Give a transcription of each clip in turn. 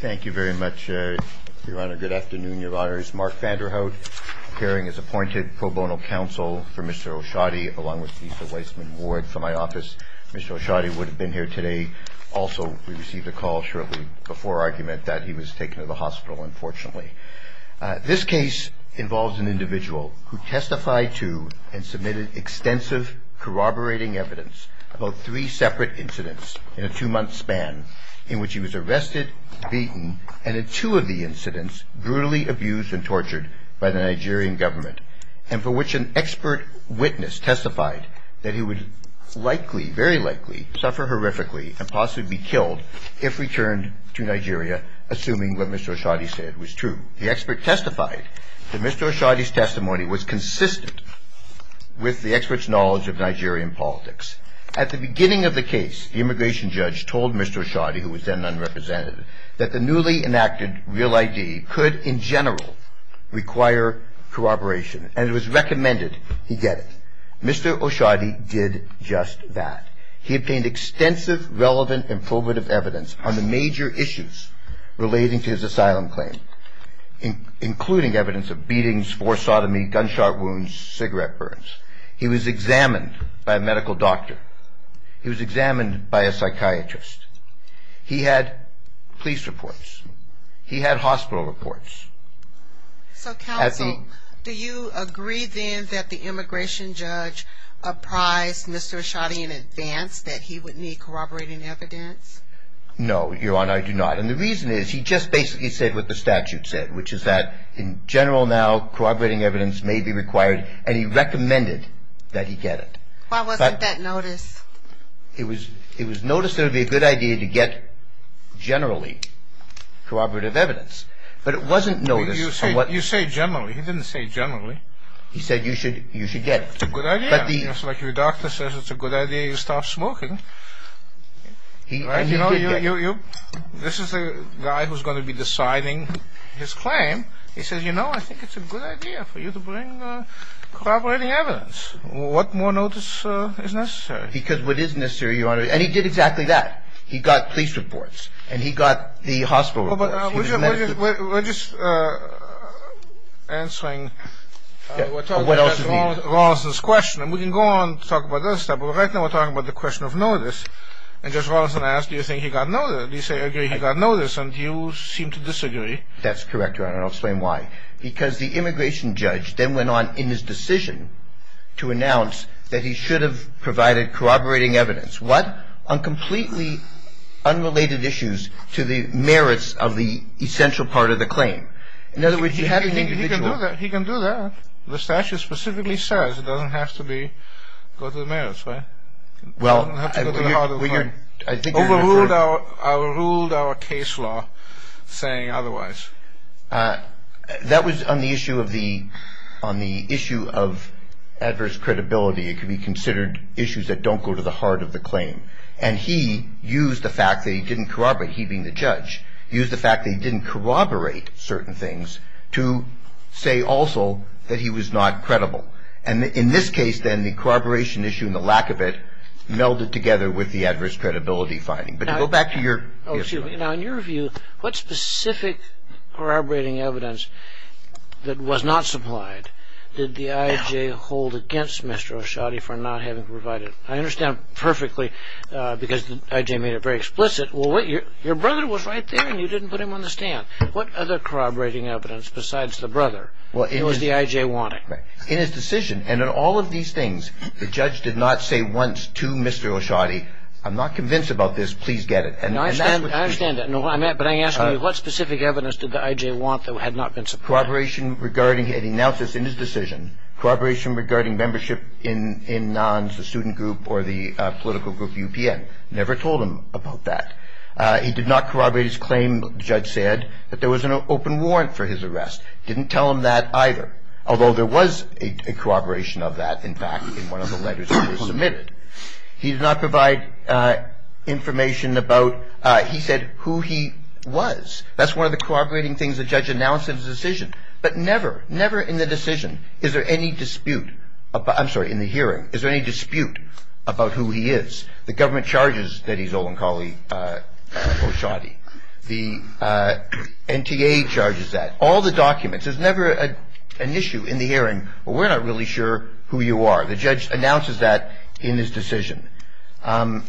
Thank you very much, Your Honor. Good afternoon, Your Honors. Mark Vanderhout, appearing as appointed pro bono counsel for Mr. Oshodi, along with Lisa Weissman Ward from my office. Mr. Oshodi would have been here today. Also, we received a call shortly before argument that he was taken to the hospital, unfortunately. This case involves an individual who testified to and submitted extensive corroborating evidence about three separate incidents in a two-month span in which he was arrested, beaten, and in two of the incidents, brutally abused and tortured by the Nigerian government, and for which an expert witness testified that he would likely, very likely, suffer horrifically and possibly be killed if returned to Nigeria, assuming what Mr. Oshodi said was true. The expert testified that Mr. Oshodi's testimony was consistent with the expert's knowledge of Nigerian politics. At the beginning of the case, the immigration judge told Mr. Oshodi, who was then an unrepresentative, that the newly enacted Real ID could, in general, require corroboration, and it was recommended he get it. Mr. Oshodi did just that. He obtained extensive, relevant, and probative evidence on the major issues relating to his asylum claim, including evidence of beatings, forced sodomy, gunshot wounds, cigarette burns. He was examined by a medical doctor. He was examined by a psychiatrist. He had police reports. He had hospital reports. So, counsel, do you agree, then, that the immigration judge apprised Mr. Oshodi in advance that he would need corroborating evidence? No, Your Honor, I do not. And the reason is, he just basically said what the statute said, which is that, in general, now, corroborating evidence may be required, and he recommended that he get it. Why wasn't that noticed? It was noticed that it would be a good idea to get, generally, corroborative evidence. But it wasn't noticed. You say generally. He didn't say generally. He said you should get it. It's a good idea. Like your doctor says, it's a good idea you stop smoking. This is a guy who's going to be deciding his claim. He says, you know, I think it's a good idea for you to bring corroborating evidence. What more notice is necessary? Because what is necessary, Your Honor, and he did exactly that. He got police reports, and he got the hospital reports. Well, we're just, we're just, we're just answering, we're talking about Justice Rolison's question. And we can go on to talk about other stuff, but right now, we're talking about the question of notice. And Justice Rolison asked, do you think he got notice? You say, I agree, he got notice, and you seem to disagree. That's correct, Your Honor, and I'll explain why. Because the immigration judge then went on in his decision to announce that he should have provided corroborating evidence. What? On completely unrelated issues to the merits of the essential part of the claim. In other words, he had an individual... He can do that. The statute specifically says it doesn't have to be, go to the merits, right? Well, I think... Overruled our case law saying otherwise. That was on the issue of the, on the issue of adverse credibility. It could be considered issues that don't go to the heart of the claim. And he used the fact that he didn't corroborate, he being the judge, used the fact that he didn't corroborate certain things to say also that he was not credible. And in this case, then, the corroboration issue and the lack of it melded together with the adverse credibility finding. But to go back to your... Now, in your view, what specific corroborating evidence that was not supplied did the I.J. hold against Mr. Oshadi for not having provided? I understand perfectly, because the I.J. made it very explicit, well, your brother was right there and you didn't put him on the stand. What other corroborating evidence besides the brother was the I.J. wanting? In his decision, and in all of these things, the judge did not say once to Mr. Oshadi, I'm not convinced about this, please get it. I understand that. But I'm asking you, what specific evidence did the I.J. want that had not been supplied? Corroboration regarding, and he announced this in his decision, corroboration regarding membership in NONS, the student group or the political group UPN. Never told him about that. He did not corroborate his claim, the judge said, that there was an open warrant for his arrest. Didn't tell him that either. Although there was a corroboration of that, in fact, in one of the letters that was submitted. He did not provide information about, he said who he was. That's one of the corroborating things the judge announced in his decision. But never, never in the decision, is there any dispute, I'm sorry, in the hearing, is there any dispute about who he is? The government charges that he's Olenkali Oshadi. The NTA charges that. All the documents, there's never an issue in the hearing, we're not really sure who you are. The judge announces that in his decision. He does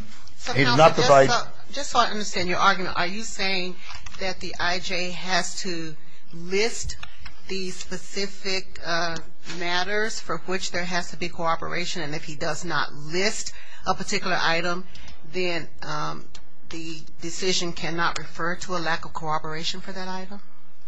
not provide. So counsel, just so I understand your argument, are you saying that the IJ has to list the specific matters for which there has to be corroboration, and if he does not list a particular item, then the decision cannot refer to a lack of corroboration for that item?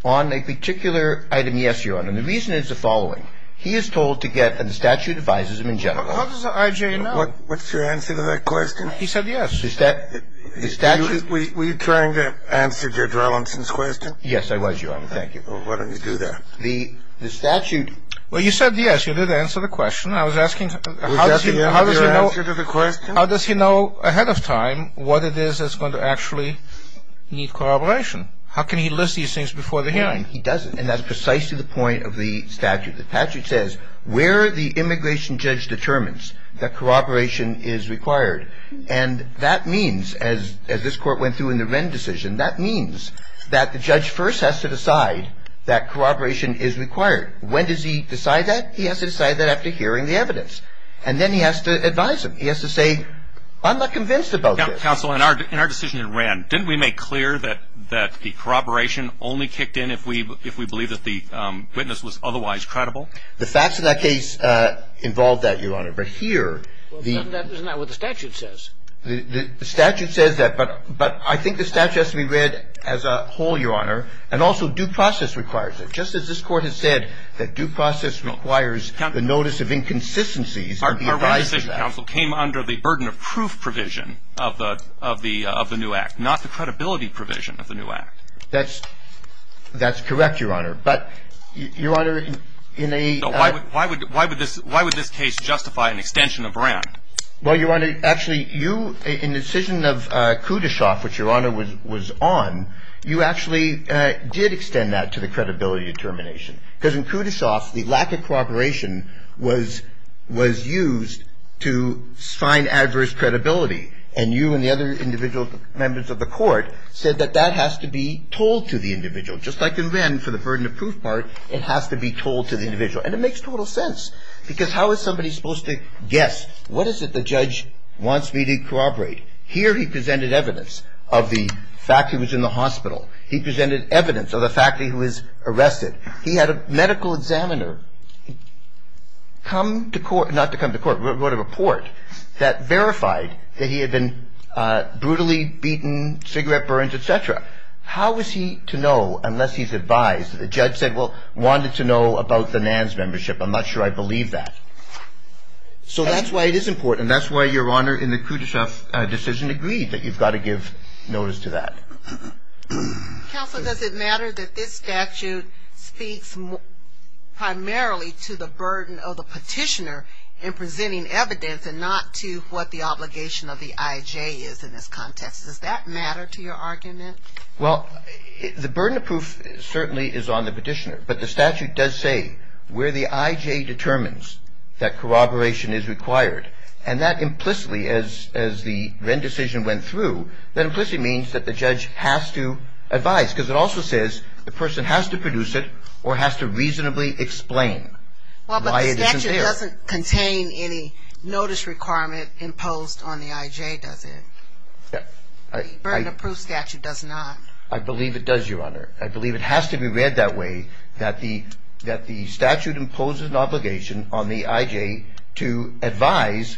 On a particular item, yes, Your Honor. And the reason is the following. He is told to get, and the statute advises him in general. How does the IJ know? What's your answer to that question? He said yes. The statute. Were you trying to answer Judge Rollinson's question? Yes, I was, Your Honor. Thank you. Well, why don't you do that? The statute. Well, you said yes. You did answer the question. I was asking. Was that the answer to the question? How does he know ahead of time what it is that's going to actually need corroboration? How can he list these things before the hearing? He doesn't. And that's precisely the point of the statute. The statute says where the immigration judge determines that corroboration is required. And that means, as this Court went through in the Wren decision, that means that the judge first has to decide that corroboration is required. When does he decide that? He has to decide that after hearing the evidence. And then he has to advise him. He has to say, I'm not convinced about this. Counsel, in our decision in Wren, didn't we make clear that the corroboration only kicked in if we believe that the witness was otherwise credible? The facts of that case involved that, Your Honor. But here, the — Well, isn't that what the statute says? The statute says that. But I think the statute has to be read as a whole, Your Honor. And also due process requires it. Just as this Court has said that due process requires the notice of inconsistencies. Our Wren decision, Counsel, came under the burden of proof provision of the new act, not the credibility provision of the new act. That's correct, Your Honor. But, Your Honor, in a — So why would this case justify an extension of Wren? Well, Your Honor, actually, you — in the decision of Kudoshoff, which Your Honor was on, you actually did extend that to the credibility determination. Because in Kudoshoff, the lack of corroboration was — was used to sign adverse credibility. And you and the other individual members of the Court said that that has to be told to the individual. Just like in Wren, for the burden of proof part, it has to be told to the individual. And it makes total sense. Because how is somebody supposed to guess, what is it the judge wants me to corroborate? Here he presented evidence of the fact he was in the hospital. He presented evidence of the fact that he was arrested. He had a medical examiner come to court — not to come to court, but wrote a report that verified that he had been brutally beaten, cigarette burns, et cetera. How is he to know, unless he's advised — the judge said, well, wanted to know about the NANS membership. I'm not sure I believe that. So that's why it is important. And that's why Your Honor, in the Kudoshoff decision, agreed that you've got to give notice to that. Counsel, does it matter that this statute speaks primarily to the burden of the petitioner in presenting evidence and not to what the obligation of the IJ is in this context? Does that matter to your argument? Well, the burden of proof certainly is on the petitioner. But the statute does say where the IJ determines that corroboration is required. And that implicitly, as the Wren decision went through, that implicitly means that the judge has to advise. Because it also says the person has to produce it or has to reasonably explain why it isn't there. Well, but the statute doesn't contain any notice requirement imposed on the IJ, does it? The burden of proof statute does not. I believe it does, Your Honor. I believe it has to be read that way, that the statute imposes an obligation on the IJ to advise,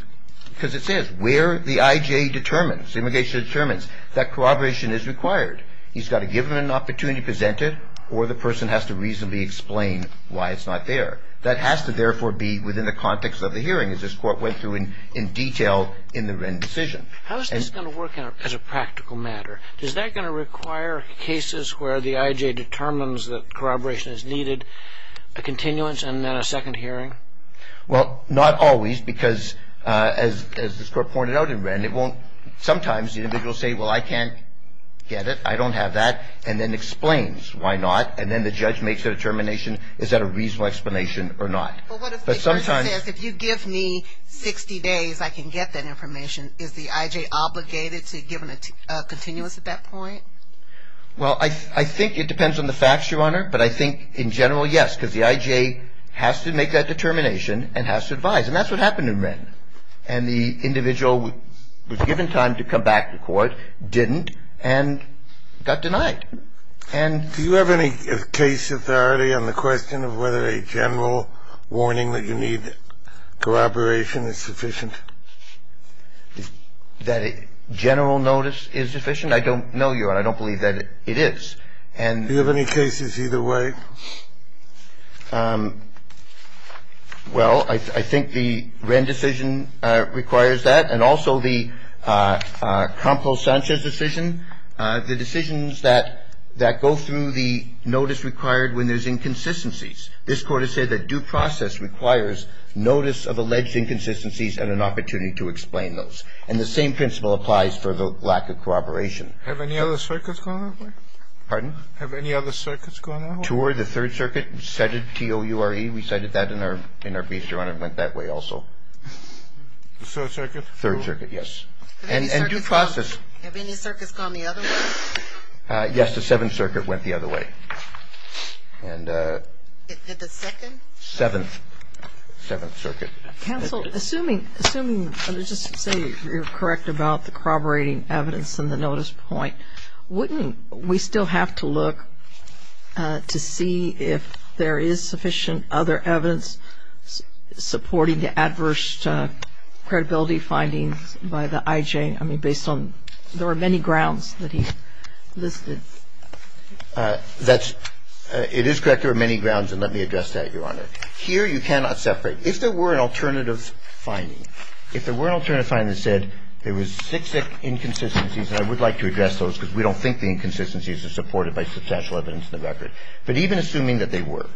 because it says where the IJ determines, the obligation determines that corroboration is required. He's got to give him an opportunity to present it, or the person has to reasonably explain why it's not there. That has to, therefore, be within the context of the hearing, as this Court went through in detail in the Wren decision. How is this going to work as a practical matter? Is that going to require cases where the IJ determines that corroboration is needed, a continuance, and then a second hearing? Well, not always, because as this Court pointed out in Wren, it won't, sometimes the individual will say, well, I can't get it, I don't have that, and then explains why not. And then the judge makes a determination, is that a reasonable explanation or not. But what if the judge says, if you give me 60 days, I can get that information, is the IJ obligated to give him a continuance at that point? Well, I think it depends on the facts, Your Honor. But I think in general, yes, because the IJ has to make that determination and has to advise. And that's what happened in Wren. And the individual was given time to come back to court, didn't, and got denied. Do you have any case authority on the question of whether a general warning that you need corroboration is sufficient? That a general notice is sufficient? I don't know, Your Honor. I don't believe that it is. And do you have any cases either way? Well, I think the Wren decision requires that, and also the Campos-Sanchez decision. The decisions that go through the notice required when there's inconsistencies. This Court has said that due process requires notice of alleged inconsistencies and an opportunity to explain those. And the same principle applies for the lack of corroboration. Have any other circuits gone that way? Pardon? Have any other circuits gone that way? TOR, the Third Circuit, T-O-U-R-E, we cited that in our brief, Your Honor, went that way also. The Third Circuit? Third Circuit, yes. And due process. Have any circuits gone the other way? Yes, the Seventh Circuit went the other way. And the Second? Seventh. Seventh Circuit. Counsel, assuming, let's just say you're correct about the corroborating evidence in the notice point, wouldn't we still have to look to see if there is sufficient other evidence supporting the adverse credibility findings by the IJ? I mean, based on, there were many grounds that he listed. That's, it is correct there were many grounds, and let me address that, Your Honor. Here you cannot separate. If there were an alternative finding, if there were an alternative finding that said there were six inconsistencies, and I would like to address those because we don't think the inconsistencies are supported by substantial evidence in the record, but even assuming that they were,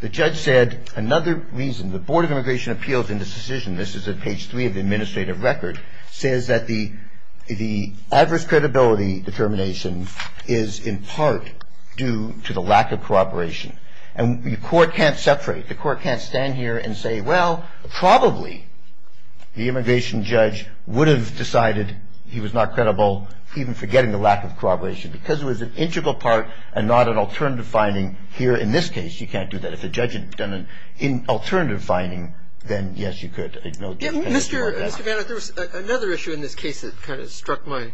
the judge said another reason, the Board of Immigration Appeals in this decision, this is at page three of the administrative record, says that the adverse credibility determination is in part due to the lack of corroboration. And the court can't separate. The court can't stand here and say, well, probably the immigration judge would have decided he was not credible, even forgetting the lack of corroboration, because it was an integral part and not an alternative finding. Here in this case, you can't do that. If the judge had done an alternative finding, then, yes, you could. There's no difference. Mr. Vanna, there was another issue in this case that kind of struck my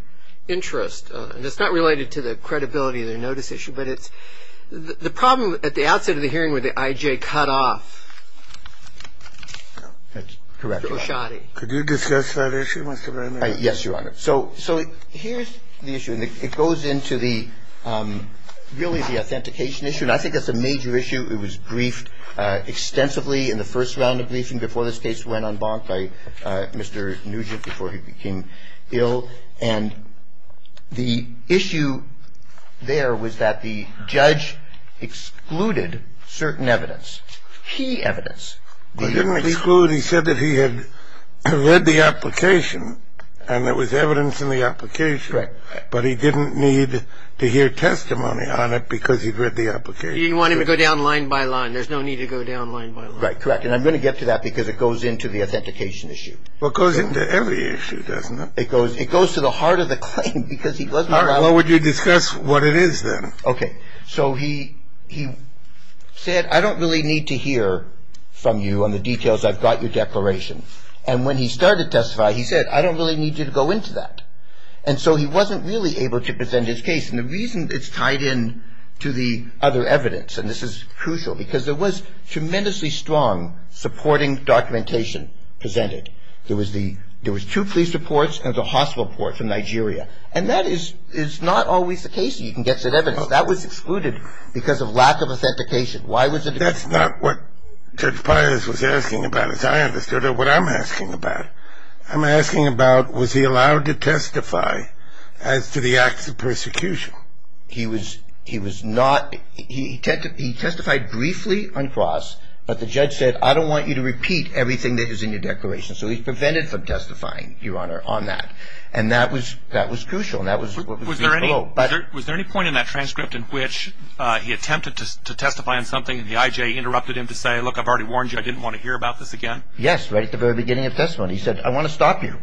interest, and it's not related to the credibility of the notice issue, but it's the problem at the outset of the hearing where the I.J. cut off. That's correct, Your Honor. O'Shaughney. Could you discuss that issue, Mr. Vanna? Yes, Your Honor. So here's the issue, and it goes into the, really the authentication issue, and I think that's a major issue. It was briefed extensively in the first round of briefing before this case went on bond by Mr. Nugent before he became ill. And the issue there was that the judge excluded certain evidence, key evidence. He didn't exclude. He said that he had read the application and there was evidence in the application. Right. But he didn't need to hear testimony on it because he'd read the application. He didn't want him to go down line by line. There's no need to go down line by line. Right. Correct. And I'm going to get to that because it goes into the authentication issue. Well, it goes into every issue, doesn't it? It goes to the heart of the claim because he wasn't around. All right. Well, would you discuss what it is then? Okay. So he said, I don't really need to hear from you on the details. I've got your declaration. And when he started to testify, he said, I don't really need you to go into that. And so he wasn't really able to present his case. And the reason it's tied in to the other evidence, and this is crucial, because there was tremendously strong supporting documentation presented. There was two police reports and a hospital report from Nigeria. And that is not always the case. You can get that evidence. That was excluded because of lack of authentication. Why was it excluded? That's not what Judge Pius was asking about, as I understood it, what I'm asking about. I'm asking about, was he allowed to testify as to the acts of persecution? He was not. He testified briefly on cross. But the judge said, I don't want you to repeat everything that is in your declaration. So he prevented from testifying, Your Honor, on that. And that was crucial. Was there any point in that transcript in which he attempted to testify on something and the IJ interrupted him to say, look, I've already warned you, I didn't want to hear about this again? Yes, right at the very beginning of the testimony. He said, I want to stop you.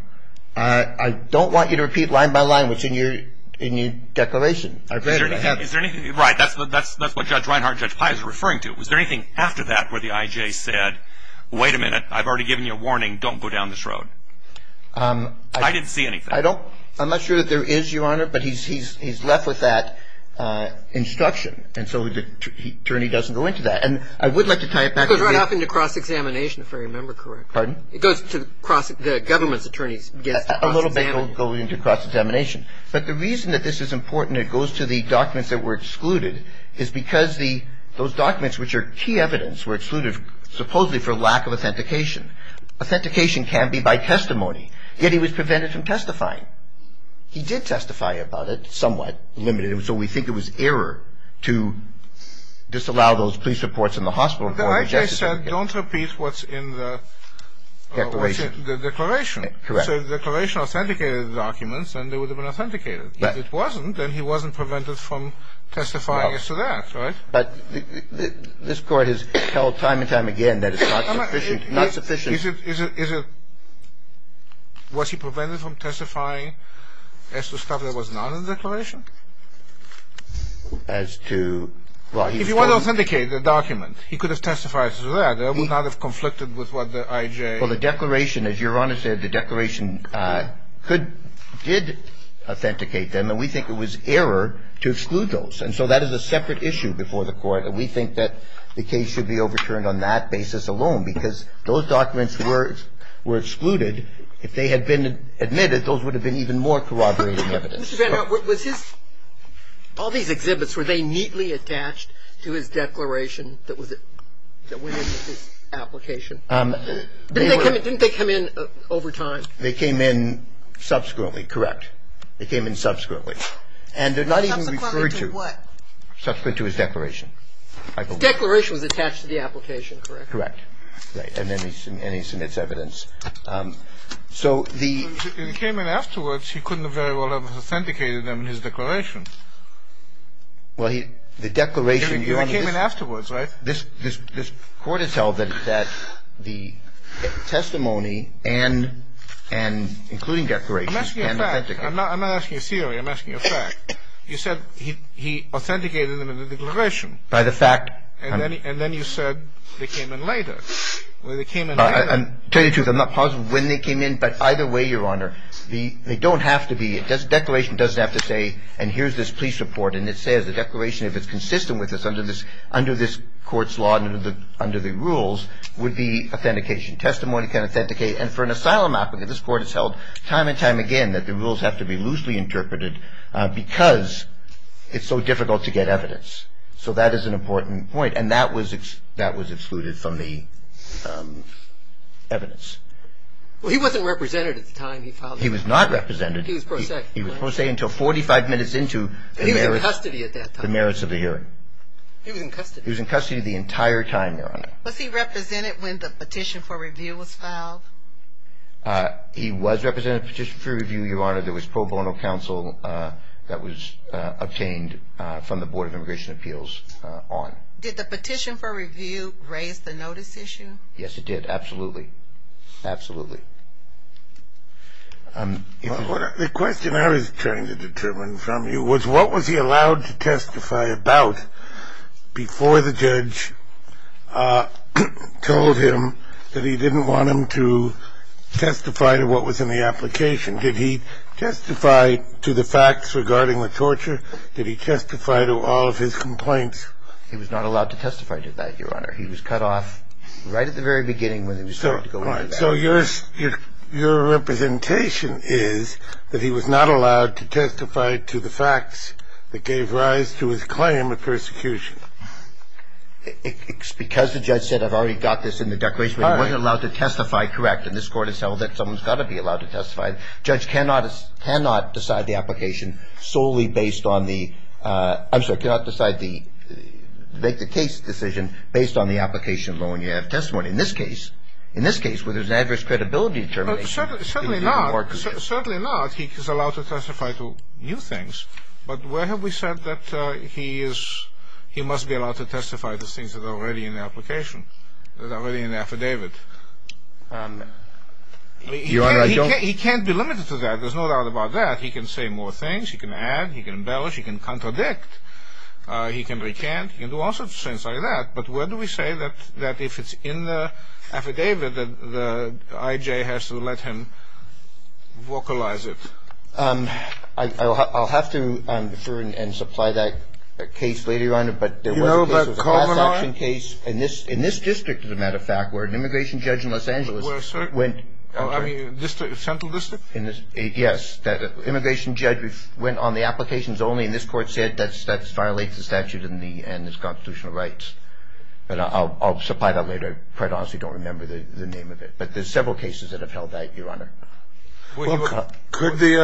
I don't want you to repeat line by line what's in your declaration. Is there anything, right, that's what Judge Reinhart and Judge Pius were referring to. Was there anything after that where the IJ said, wait a minute, I've already given you a warning, don't go down this road? I didn't see anything. I don't, I'm not sure that there is, Your Honor, but he's left with that instruction. And so the attorney doesn't go into that. And I would like to tie it back. It goes right off into cross-examination, if I remember correctly. Pardon? It goes to the government's attorneys against cross-examination. A little bit goes into cross-examination. But the reason that this is important, it goes to the documents that were excluded, is because those documents which are key evidence were excluded supposedly for lack of authentication. Authentication can be by testimony. Yet he was prevented from testifying. He did testify about it, somewhat limited. So we think it was error to disallow those police reports in the hospital. But the IJ said, don't repeat what's in the declaration. Correct. So the declaration authenticated the documents, and they would have been authenticated. If it wasn't, then he wasn't prevented from testifying as to that, right? But this Court has held time and time again that it's not sufficient. Is it, was he prevented from testifying as to stuff that was not in the declaration? As to, well, he's still. He could authenticate the document. He could have testified as to that. It would not have conflicted with what the IJ. Well, the declaration, as Your Honor said, the declaration could, did authenticate them, and we think it was error to exclude those. And so that is a separate issue before the Court, and we think that the case should be overturned on that basis alone, because those documents were excluded. If they had been admitted, those would have been even more corroborating evidence. All these exhibits, were they neatly attached to his declaration that went into his application? Didn't they come in over time? They came in subsequently, correct. They came in subsequently. And they're not even referred to. Subsequently to what? Subsequently to his declaration. His declaration was attached to the application, correct? Correct. And then he submits evidence. So the. He came in afterwards. He couldn't have very well authenticated them in his declaration. Well, the declaration. He came in afterwards, right? This Court has held that the testimony and including declarations. I'm asking a fact. I'm not asking a theory. I'm asking a fact. You said he authenticated them in the declaration. By the fact. And then you said they came in later. Well, they came in later. To tell you the truth, I'm not positive when they came in. But either way, Your Honor, they don't have to be. A declaration doesn't have to say, and here's this police report. And it says the declaration, if it's consistent with this under this court's law, under the rules, would be authentication. Testimony can authenticate. And for an asylum applicant, this Court has held time and time again that the rules have to be loosely interpreted because it's so difficult to get evidence. So that is an important point. And that was excluded from the evidence. Well, he wasn't represented at the time he filed. He was not represented. He was pro se. He was pro se until 45 minutes into the merits. He was in custody at that time. The merits of the hearing. He was in custody. He was in custody the entire time, Your Honor. Was he represented when the petition for review was filed? He was represented at the petition for review, Your Honor. There was pro bono counsel that was obtained from the Board of Immigration Appeals on. Did the petition for review raise the notice issue? Yes, it did. Absolutely. Absolutely. The question I was trying to determine from you was what was he allowed to testify about before the judge told him that he didn't want him to testify to what was in the application? Did he testify to the facts regarding the torture? Did he testify to all of his complaints? He was not allowed to testify to that, Your Honor. He was cut off right at the very beginning when he was starting to go into that. All right. So your representation is that he was not allowed to testify to the facts that gave rise to his claim of persecution. It's because the judge said I've already got this in the declaration. He wasn't allowed to testify correct. And this Court has held that someone's got to be allowed to testify. Judge cannot decide the application solely based on the – I'm sorry, cannot decide the – make the case decision based on the application alone. You have testimony. In this case, in this case where there's an adverse credibility determination. Certainly not. Certainly not. He is allowed to testify to new things. But where have we said that he is – he must be allowed to testify to things that are already in the application, that are already in the affidavit? Your Honor, I don't – He can't be limited to that. There's no doubt about that. He can say more things. He can add. He can embellish. He can contradict. He can recant. He can do all sorts of things like that. But where do we say that if it's in the affidavit that the IJ has to let him vocalize it? I'll have to defer and supply that case later on. But there was a case – You know about Kovner? In this district, as a matter of fact, where an immigration judge in Los Angeles went – I mean, central district? Yes. That immigration judge went on the applications only, and this court said that violates the statute and its constitutional rights. But I'll supply that later. I quite honestly don't remember the name of it. But there's several cases that have held that, Your Honor. Could the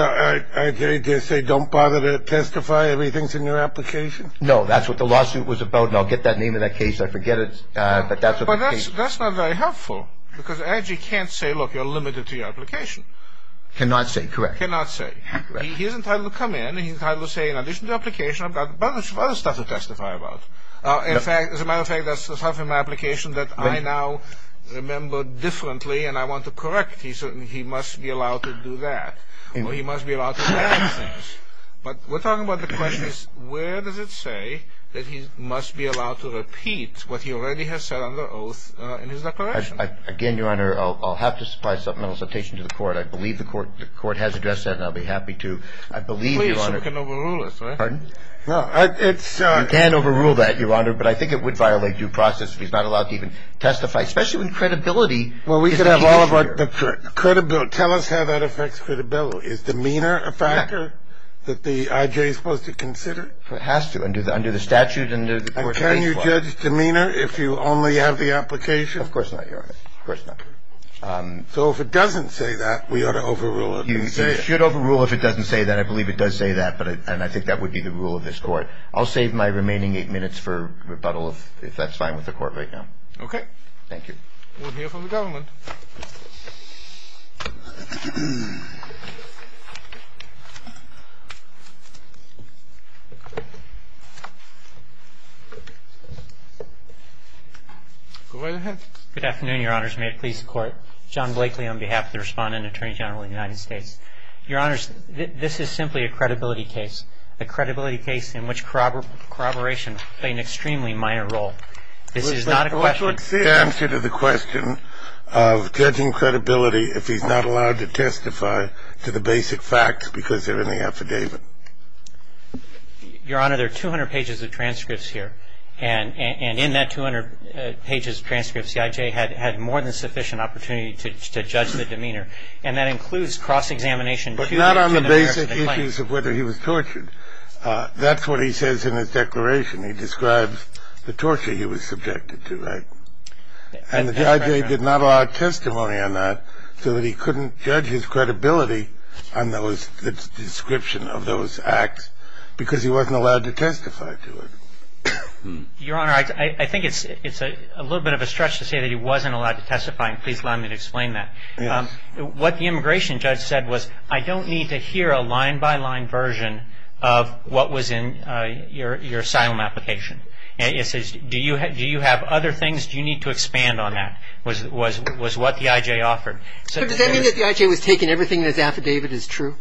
IJ just say, don't bother to testify? Everything's in your application? No. That's what the lawsuit was about, and I'll get that name of that case. I forget it, but that's what the case is. But that's not very helpful, because the IJ can't say, look, you're limited to your application. Cannot say, correct. Cannot say. He is entitled to come in, and he's entitled to say, in addition to the application, I've got a bunch of other stuff to testify about. As a matter of fact, that's the stuff in my application that I now remember differently, and I want to correct. He must be allowed to do that, or he must be allowed to add things. But we're talking about the questions, where does it say that he must be allowed to repeat what he already has said under oath in his declaration? Again, Your Honor, I'll have to supply supplemental citation to the court. I believe the court has addressed that, and I'll be happy to. I believe, Your Honor. Please, so we can overrule it. Pardon? No. You can overrule that, Your Honor, but I think it would violate due process if he's not allowed to even testify, especially when credibility is the key. Well, we could have all of our credibility. Tell us how that affects credibility. Is demeanor a factor? Is it a factor that the I.J. is supposed to consider? It has to, under the statute and the court's case law. And can you judge demeanor if you only have the application? Of course not, Your Honor. Of course not. So if it doesn't say that, we ought to overrule it. You should overrule if it doesn't say that. I believe it does say that, and I think that would be the rule of this court. I'll save my remaining eight minutes for rebuttal, if that's fine with the court right now. Okay. Thank you. We'll hear from the government. Go right ahead. Good afternoon, Your Honors. May it please the Court. John Blakely on behalf of the Respondent and Attorney General of the United States. Your Honors, this is simply a credibility case, a credibility case in which corroboration played an extremely minor role. This is not a question of the attorney general. What's the answer to the question? It's a question of judging credibility if he's not allowed to testify to the basic facts because they're in the affidavit. Your Honor, there are 200 pages of transcripts here, and in that 200 pages of transcripts, the I.J. had more than sufficient opportunity to judge the demeanor, and that includes cross-examination. But not on the basic issues of whether he was tortured. That's what he says in his declaration. He describes the torture he was subjected to, right? And the I.J. did not allow testimony on that so that he couldn't judge his credibility on the description of those acts because he wasn't allowed to testify to it. Your Honor, I think it's a little bit of a stretch to say that he wasn't allowed to testify, and please allow me to explain that. What the immigration judge said was, I don't need to hear a line-by-line version of what was in your asylum application. It says, do you have other things? Do you need to expand on that, was what the I.J. offered. So does that mean that the I.J. was taking everything in his affidavit as true?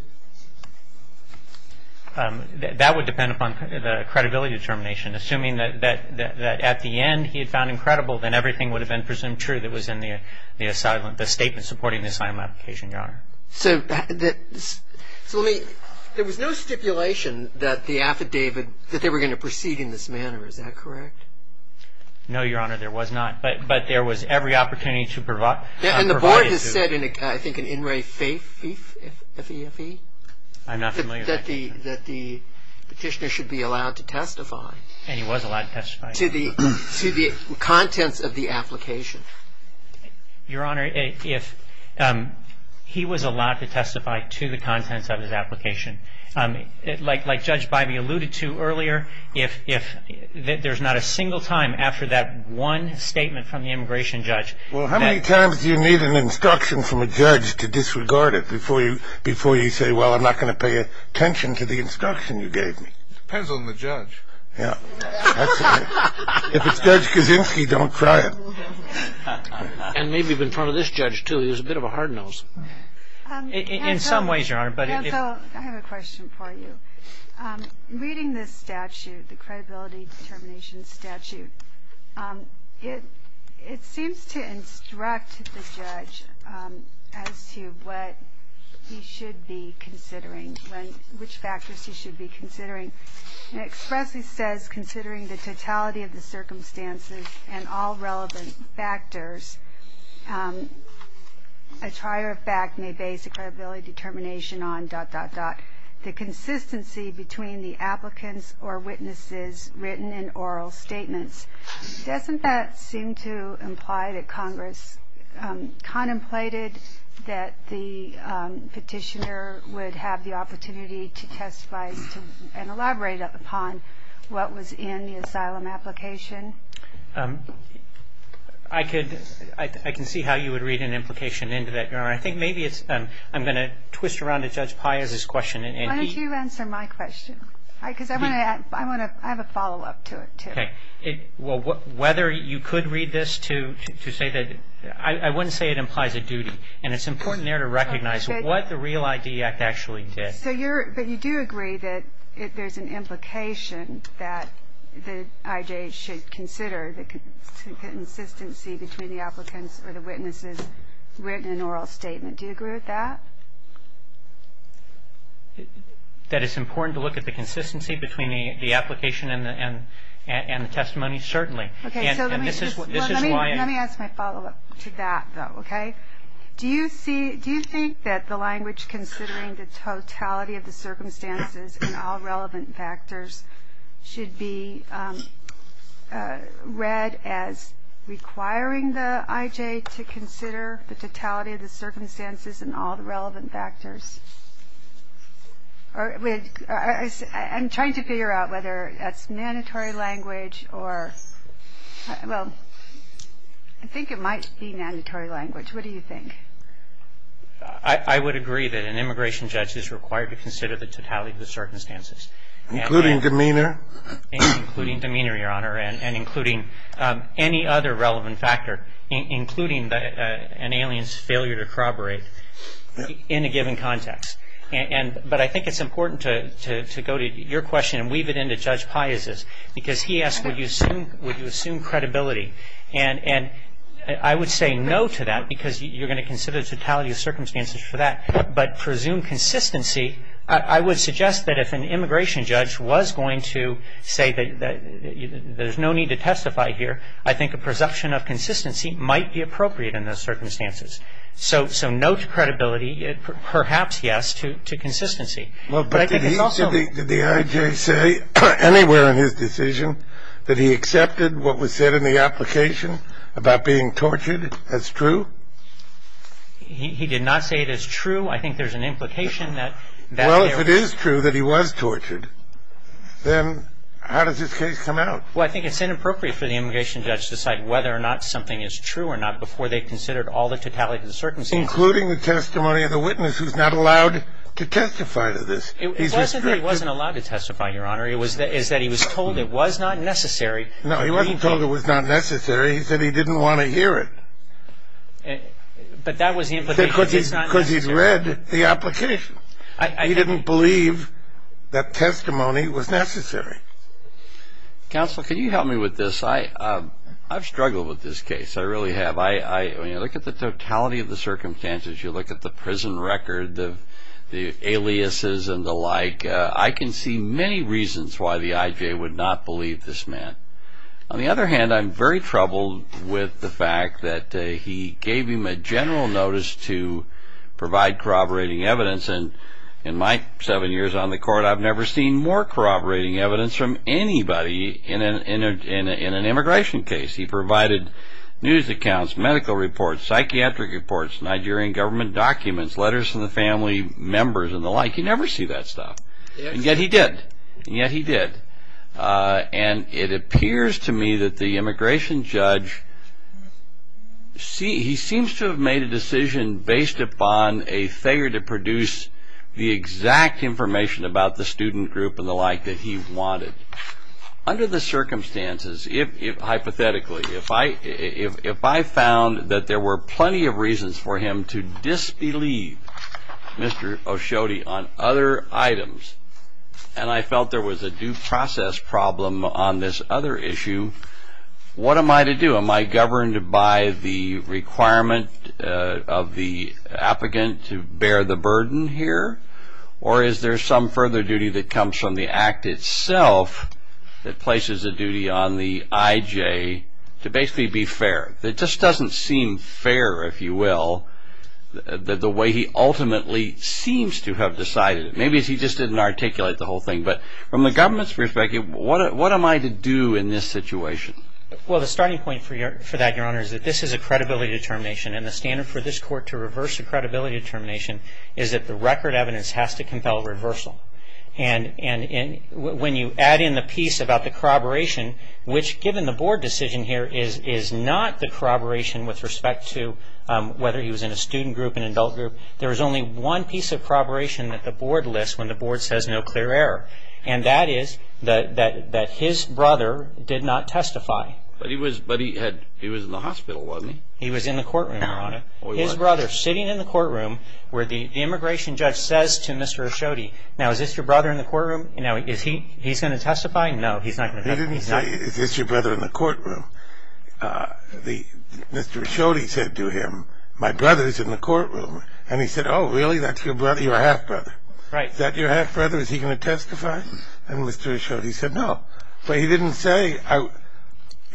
That would depend upon the credibility determination. Assuming that at the end he had found him credible, then everything would have been presumed true that was in the asylum, the statement supporting the asylum application, Your Honor. So let me, there was no stipulation that the affidavit, that they were going to proceed in this manner, is that correct? No, Your Honor, there was not. But there was every opportunity to provide. And the board has said, I think, in in re fife, f-e-f-e? I'm not familiar with that. That the petitioner should be allowed to testify. And he was allowed to testify. To the contents of the application. Your Honor, if he was allowed to testify to the contents of his application, like Judge Bybee alluded to earlier, if there's not a single time after that one statement from the immigration judge. Well, how many times do you need an instruction from a judge to disregard it before you say, well, I'm not going to pay attention to the instruction you gave me? Depends on the judge. Yeah. If it's Judge Kaczynski, don't try it. And maybe even in front of this judge, too. He was a bit of a hard nose. In some ways, Your Honor. I have a question for you. Reading this statute, the credibility determination statute, it seems to instruct the judge as to what he should be considering. Which factors he should be considering. It expressly says, considering the totality of the circumstances and all relevant factors, a trier of fact may base a credibility determination on dot, dot, dot. The consistency between the applicants or witnesses written in oral statements. Doesn't that seem to imply that Congress contemplated that the petitioner would have the opportunity to testify and elaborate upon what was in the asylum application? I can see how you would read an implication into that, Your Honor. I think maybe I'm going to twist around to Judge Pius's question. Why don't you answer my question? Because I have a follow-up to it, too. Okay. Well, whether you could read this to say that I wouldn't say it implies a duty. And it's important there to recognize what the REAL ID Act actually did. But you do agree that there's an implication that the IJ should consider the consistency between the applicants or the witnesses written in oral statement. Do you agree with that? That it's important to look at the consistency between the application and the testimony? Certainly. Let me ask my follow-up to that, though, okay? Do you think that the language considering the totality of the circumstances and all relevant factors should be read as requiring the IJ to consider the totality of the circumstances and all the relevant factors? I'm trying to figure out whether that's mandatory language or, well, I think it might be mandatory language. What do you think? I would agree that an immigration judge is required to consider the totality of the circumstances. Including demeanor? Including demeanor, Your Honor, and including any other relevant factor, including an alien's failure to corroborate in a given context. But I think it's important to go to your question and weave it into Judge Pius's, because he asked would you assume credibility. And I would say no to that, because you're going to consider the totality of circumstances for that. But presume consistency, I would suggest that if an immigration judge was going to say that there's no need to testify here, I think a presumption of consistency might be appropriate in those circumstances. So no to credibility, perhaps yes to consistency. Did the IJ say anywhere in his decision that he accepted what was said in the application about being tortured as true? He did not say it as true. I think there's an implication that there was. Well, if it is true that he was tortured, then how does this case come out? Well, I think it's inappropriate for the immigration judge to decide whether or not something is true or not before they've considered all the totality of the circumstances. Including the testimony of the witness who's not allowed to testify to this. It wasn't that he wasn't allowed to testify, Your Honor. It was that he was told it was not necessary. No, he wasn't told it was not necessary. He said he didn't want to hear it. But that was the implication. Because he's read the application. He didn't believe that testimony was necessary. Counsel, can you help me with this? I've struggled with this case. I really have. When you look at the totality of the circumstances, you look at the prison record, the aliases and the like, I can see many reasons why the IJ would not believe this man. On the other hand, I'm very troubled with the fact that he gave him a general notice to provide corroborating evidence. And in my seven years on the court, I've never seen more corroborating evidence from anybody in an immigration case. He provided news accounts, medical reports, psychiatric reports, Nigerian government documents, letters from the family members and the like. You never see that stuff. And yet he did. And yet he did. And it appears to me that the immigration judge, he seems to have made a decision based upon a failure to produce the exact information about the student group and the like that he wanted. Under the circumstances, hypothetically, if I found that there were plenty of reasons for him to disbelieve Mr. O'Shodey on other items, and I felt there was a due process problem on this other issue, what am I to do? Am I governed by the requirement of the applicant to bear the burden here? Or is there some further duty that comes from the act itself that places a duty on the IJ to basically be fair? It just doesn't seem fair, if you will, the way he ultimately seems to have decided it. Maybe he just didn't articulate the whole thing. But from the government's perspective, what am I to do in this situation? Well, the starting point for that, Your Honor, is that this is a credibility determination. And the standard for this Court to reverse a credibility determination is that the record evidence has to compel reversal. And when you add in the piece about the corroboration, which, given the Board decision here, is not the corroboration with respect to whether he was in a student group, an adult group. There is only one piece of corroboration that the Board lists when the Board says no clear error. And that is that his brother did not testify. But he was in the hospital, wasn't he? He was in the courtroom, Your Honor. His brother sitting in the courtroom where the immigration judge says to Mr. Ashodi, now, is this your brother in the courtroom? Now, is he going to testify? No, he's not going to testify. He didn't say, is this your brother in the courtroom? Mr. Ashodi said to him, my brother is in the courtroom. And he said, oh, really? That's your half-brother. Is that your half-brother? Is he going to testify? And Mr. Ashodi said no. But he didn't say, you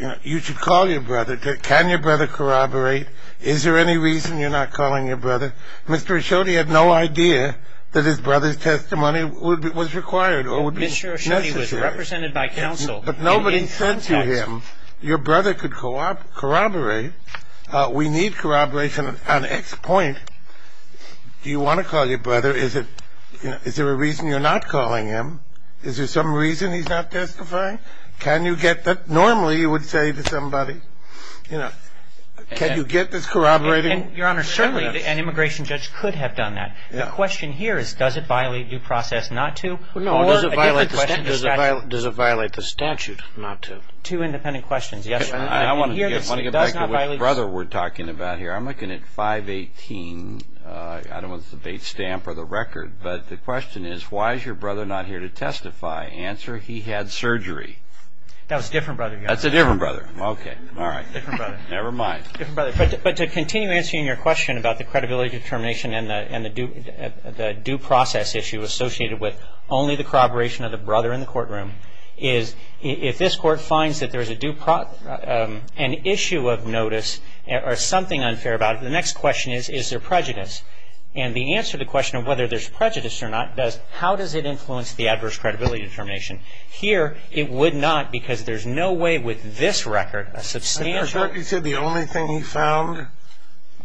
know, you should call your brother. Can your brother corroborate? Is there any reason you're not calling your brother? Mr. Ashodi had no idea that his brother's testimony was required or would be necessary. Mr. Ashodi was represented by counsel. But nobody said to him, your brother could corroborate. We need corroboration on X point. Do you want to call your brother? Is there a reason you're not calling him? Is there some reason he's not testifying? Can you get that? Normally you would say to somebody, you know, can you get this corroborating? Your Honor, certainly an immigration judge could have done that. The question here is, does it violate due process not to? Or does it violate the statute not to? Two independent questions. Yes, Your Honor. I want to get back to what brother we're talking about here. I'm looking at 518. I don't want to debate stamp or the record. But the question is, why is your brother not here to testify? Answer, he had surgery. That was a different brother, Your Honor. That's a different brother. Okay, all right. Different brother. Never mind. Different brother. But to continue answering your question about the credibility determination and the due process issue associated with only the corroboration of the brother in the courtroom, is if this court finds that there is an issue of notice or something unfair about it, the next question is, is there prejudice? And the answer to the question of whether there's prejudice or not does, how does it influence the adverse credibility determination? Here, it would not because there's no way with this record, a substantial ---- I thought you said the only thing he found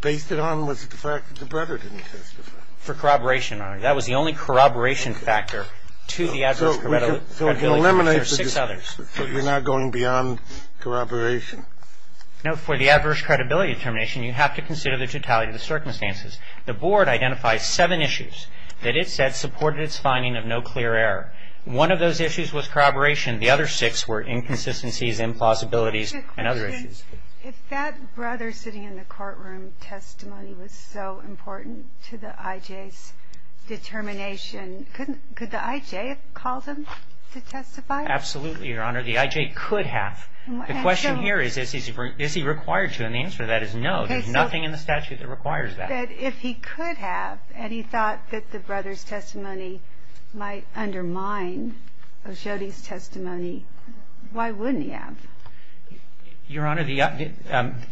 based it on was the fact that the brother didn't testify. For corroboration, Your Honor. That was the only corroboration factor to the adverse credibility determination. There are six others. So you're not going beyond corroboration? No, for the adverse credibility determination, you have to consider the totality of the circumstances. The Board identifies seven issues that it said supported its finding of no clear error. One of those issues was corroboration. The other six were inconsistencies, implausibilities, and other issues. If that brother sitting in the courtroom testimony was so important to the I.J.'s determination, could the I.J. have called him to testify? Absolutely, Your Honor. The I.J. could have. The question here is, is he required to? And the answer to that is no. There's nothing in the statute that requires that. If he could have and he thought that the brother's testimony might undermine O'Shodey's testimony, why wouldn't he have? Your Honor, the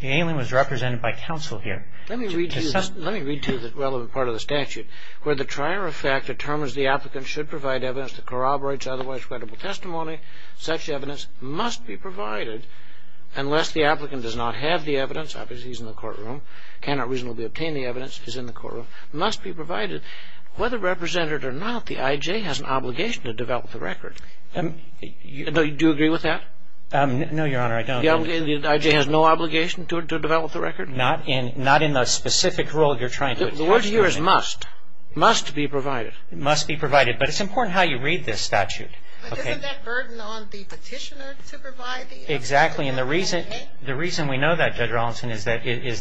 alien was represented by counsel here. Let me read to you the relevant part of the statute. Where the trier of fact determines the applicant should provide evidence that corroborates otherwise credible testimony, such evidence must be provided unless the applicant does not have the evidence, obviously he's in the courtroom, cannot reasonably obtain the evidence, is in the courtroom, must be provided. Whether represented or not, the I.J. has an obligation to develop the record. Do you agree with that? No, Your Honor, I don't. The I.J. has no obligation to develop the record? Not in the specific role you're trying to testify in. The word here is must. Must be provided. Must be provided. But it's important how you read this statute. But isn't that burden on the petitioner to provide the evidence? Exactly. And the reason we know that, Judge Rollinson, is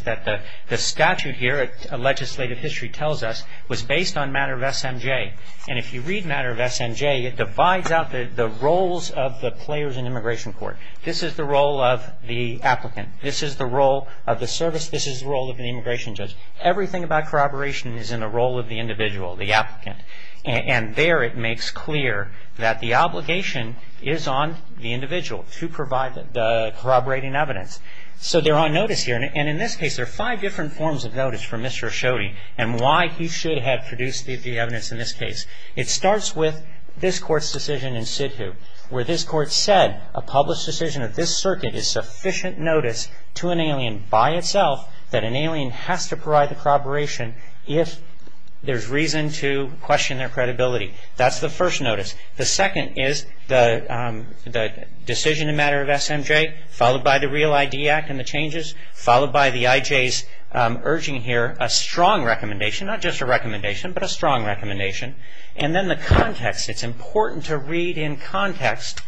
that the statute here, legislative history tells us, was based on matter of SMJ. And if you read matter of SMJ, it divides out the roles of the players in immigration court. This is the role of the applicant. This is the role of the service. This is the role of the immigration judge. Everything about corroboration is in the role of the individual, the applicant. And there it makes clear that the obligation is on the individual to provide the corroborating evidence. So they're on notice here. And in this case, there are five different forms of notice for Mr. Asciotti and why he should have produced the evidence in this case. It starts with this Court's decision in Sidhu, where this Court said a published decision of this circuit is sufficient notice to an alien by itself that an alien has to provide the corroboration if there's reason to question their credibility. That's the first notice. The second is the decision in matter of SMJ, followed by the Real ID Act and the changes, followed by the IJs urging here a strong recommendation, not just a recommendation, but a strong recommendation. And then the context. It's important to read in context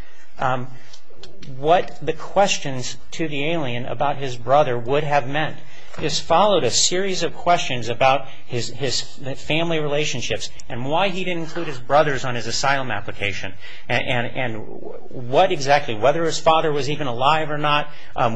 what the questions to the alien about his brother would have meant. This followed a series of questions about his family relationships and why he didn't include his brothers on his asylum application. And what exactly, whether his father was even alive or not,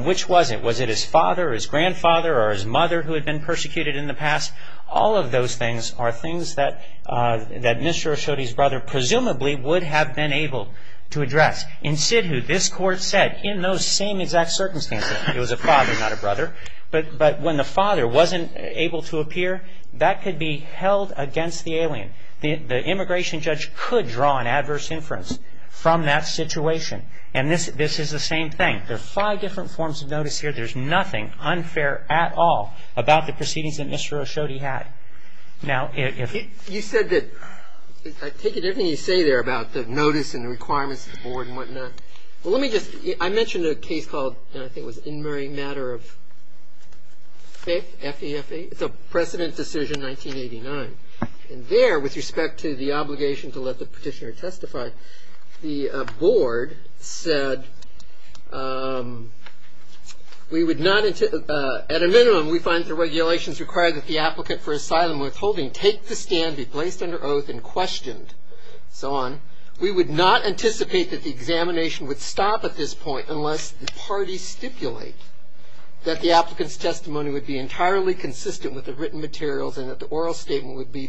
which was it? Was it his father or his grandfather or his mother who had been persecuted in the past? All of those things are things that Mr. Asciotti's brother presumably would have been able to address. In Sidhu, this Court said in those same exact circumstances, it was a father, not a brother. But when the father wasn't able to appear, that could be held against the alien. The immigration judge could draw an adverse inference from that situation. And this is the same thing. There are five different forms of notice here. There's nothing unfair at all about the proceedings that Mr. Asciotti had. Now, if- You said that- I take it everything you say there about the notice and the requirements of the board and whatnot. Well, let me just- I mentioned a case called, I think it was in Murray, matter of FEFA. It's a precedent decision, 1989. And there, with respect to the obligation to let the petitioner testify, the board said, we would not- at a minimum, we find the regulations require that the applicant for asylum withholding take the stand, be placed under oath, and questioned. So on. We would not anticipate that the examination would stop at this point unless the parties stipulate that the applicant's testimony would be entirely consistent with the written materials and that the oral statement would be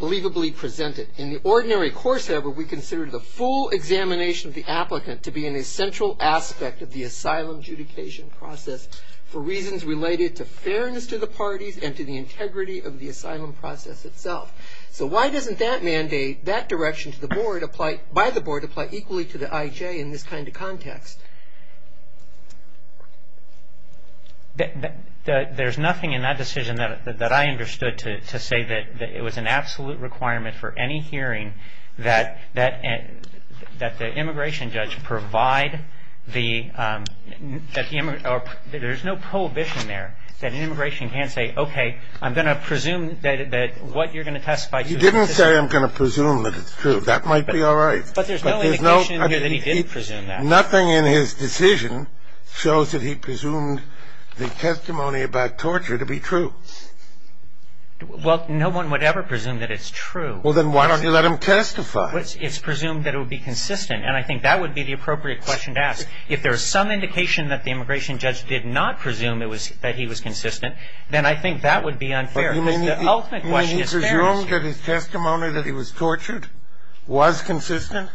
believably presented. In the ordinary course, however, we consider the full examination of the applicant to be an essential aspect of the asylum adjudication process for reasons related to fairness to the parties and to the integrity of the asylum process itself. So why doesn't that mandate, that direction by the board apply equally to the IJ in this kind of context? There's nothing in that decision that I understood to say that it was an absolute requirement for any hearing that the immigration judge provide the- there's no prohibition there that an immigration can't say, okay, I'm going to presume that what you're going to testify to- You didn't say I'm going to presume that it's true. That might be all right. But there's no indication that he didn't presume that. Nothing in his decision shows that he presumed the testimony about torture to be true. Well, no one would ever presume that it's true. Well, then why don't you let him testify? It's presumed that it would be consistent. And I think that would be the appropriate question to ask. If there is some indication that the immigration judge did not presume it was- that he was consistent, then I think that would be unfair because the ultimate question is fairness. You mean he presumed that his testimony that he was tortured was consistent?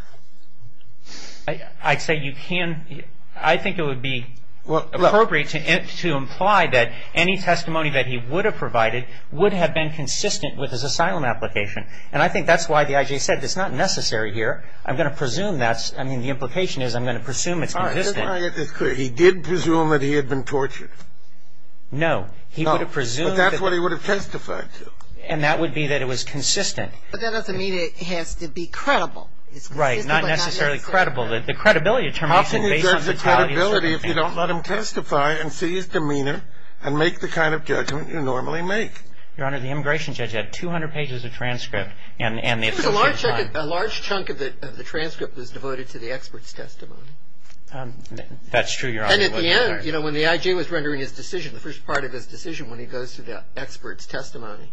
I'd say you can't- I think it would be appropriate to imply that any testimony that he would have provided would have been consistent with his asylum application. And I think that's why the IJ said it's not necessary here. I'm going to presume that's- I mean, the implication is I'm going to presume it's consistent. All right. Just let me get this clear. He did presume that he had been tortured? No. He would have presumed- No. But that's what he would have testified to. And that would be that it was consistent. But that doesn't mean it has to be credible. It's consistent but not necessary. Right. Not necessarily credible. The credibility determination- How can you judge the credibility if you don't let him testify and see his demeanor and make the kind of judgment you normally make? Your Honor, the immigration judge had 200 pages of transcript and the- A large chunk of the transcript was devoted to the expert's testimony. That's true, Your Honor. And at the end, you know, when the IJ was rendering his decision, the first part of his decision when he goes through the expert's testimony,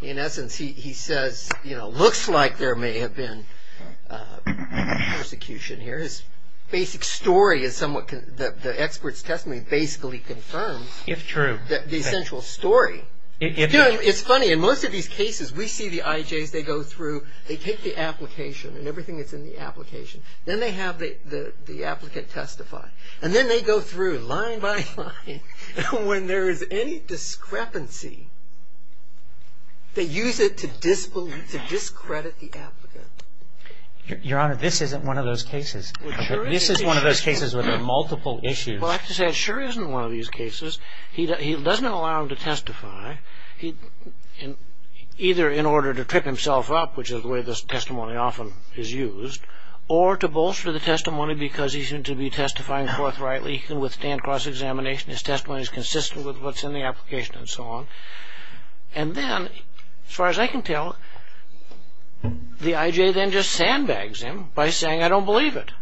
in essence he says, you know, looks like there may have been persecution here. His basic story is somewhat- the expert's testimony basically confirms- If true. The essential story. It's funny. In most of these cases, we see the IJs. They go through. They take the application and everything that's in the application. Then they have the applicant testify. And then they go through line by line. When there is any discrepancy, they use it to discredit the applicant. Your Honor, this isn't one of those cases. This is one of those cases where there are multiple issues. Well, I have to say it sure isn't one of these cases. He doesn't allow him to testify either in order to trip himself up, which is the way this testimony often is used, or to bolster the testimony because he's going to be testifying forthrightly. He can withstand cross-examination. His testimony is consistent with what's in the application and so on. And then, as far as I can tell, the IJ then just sandbags him by saying, I don't believe it.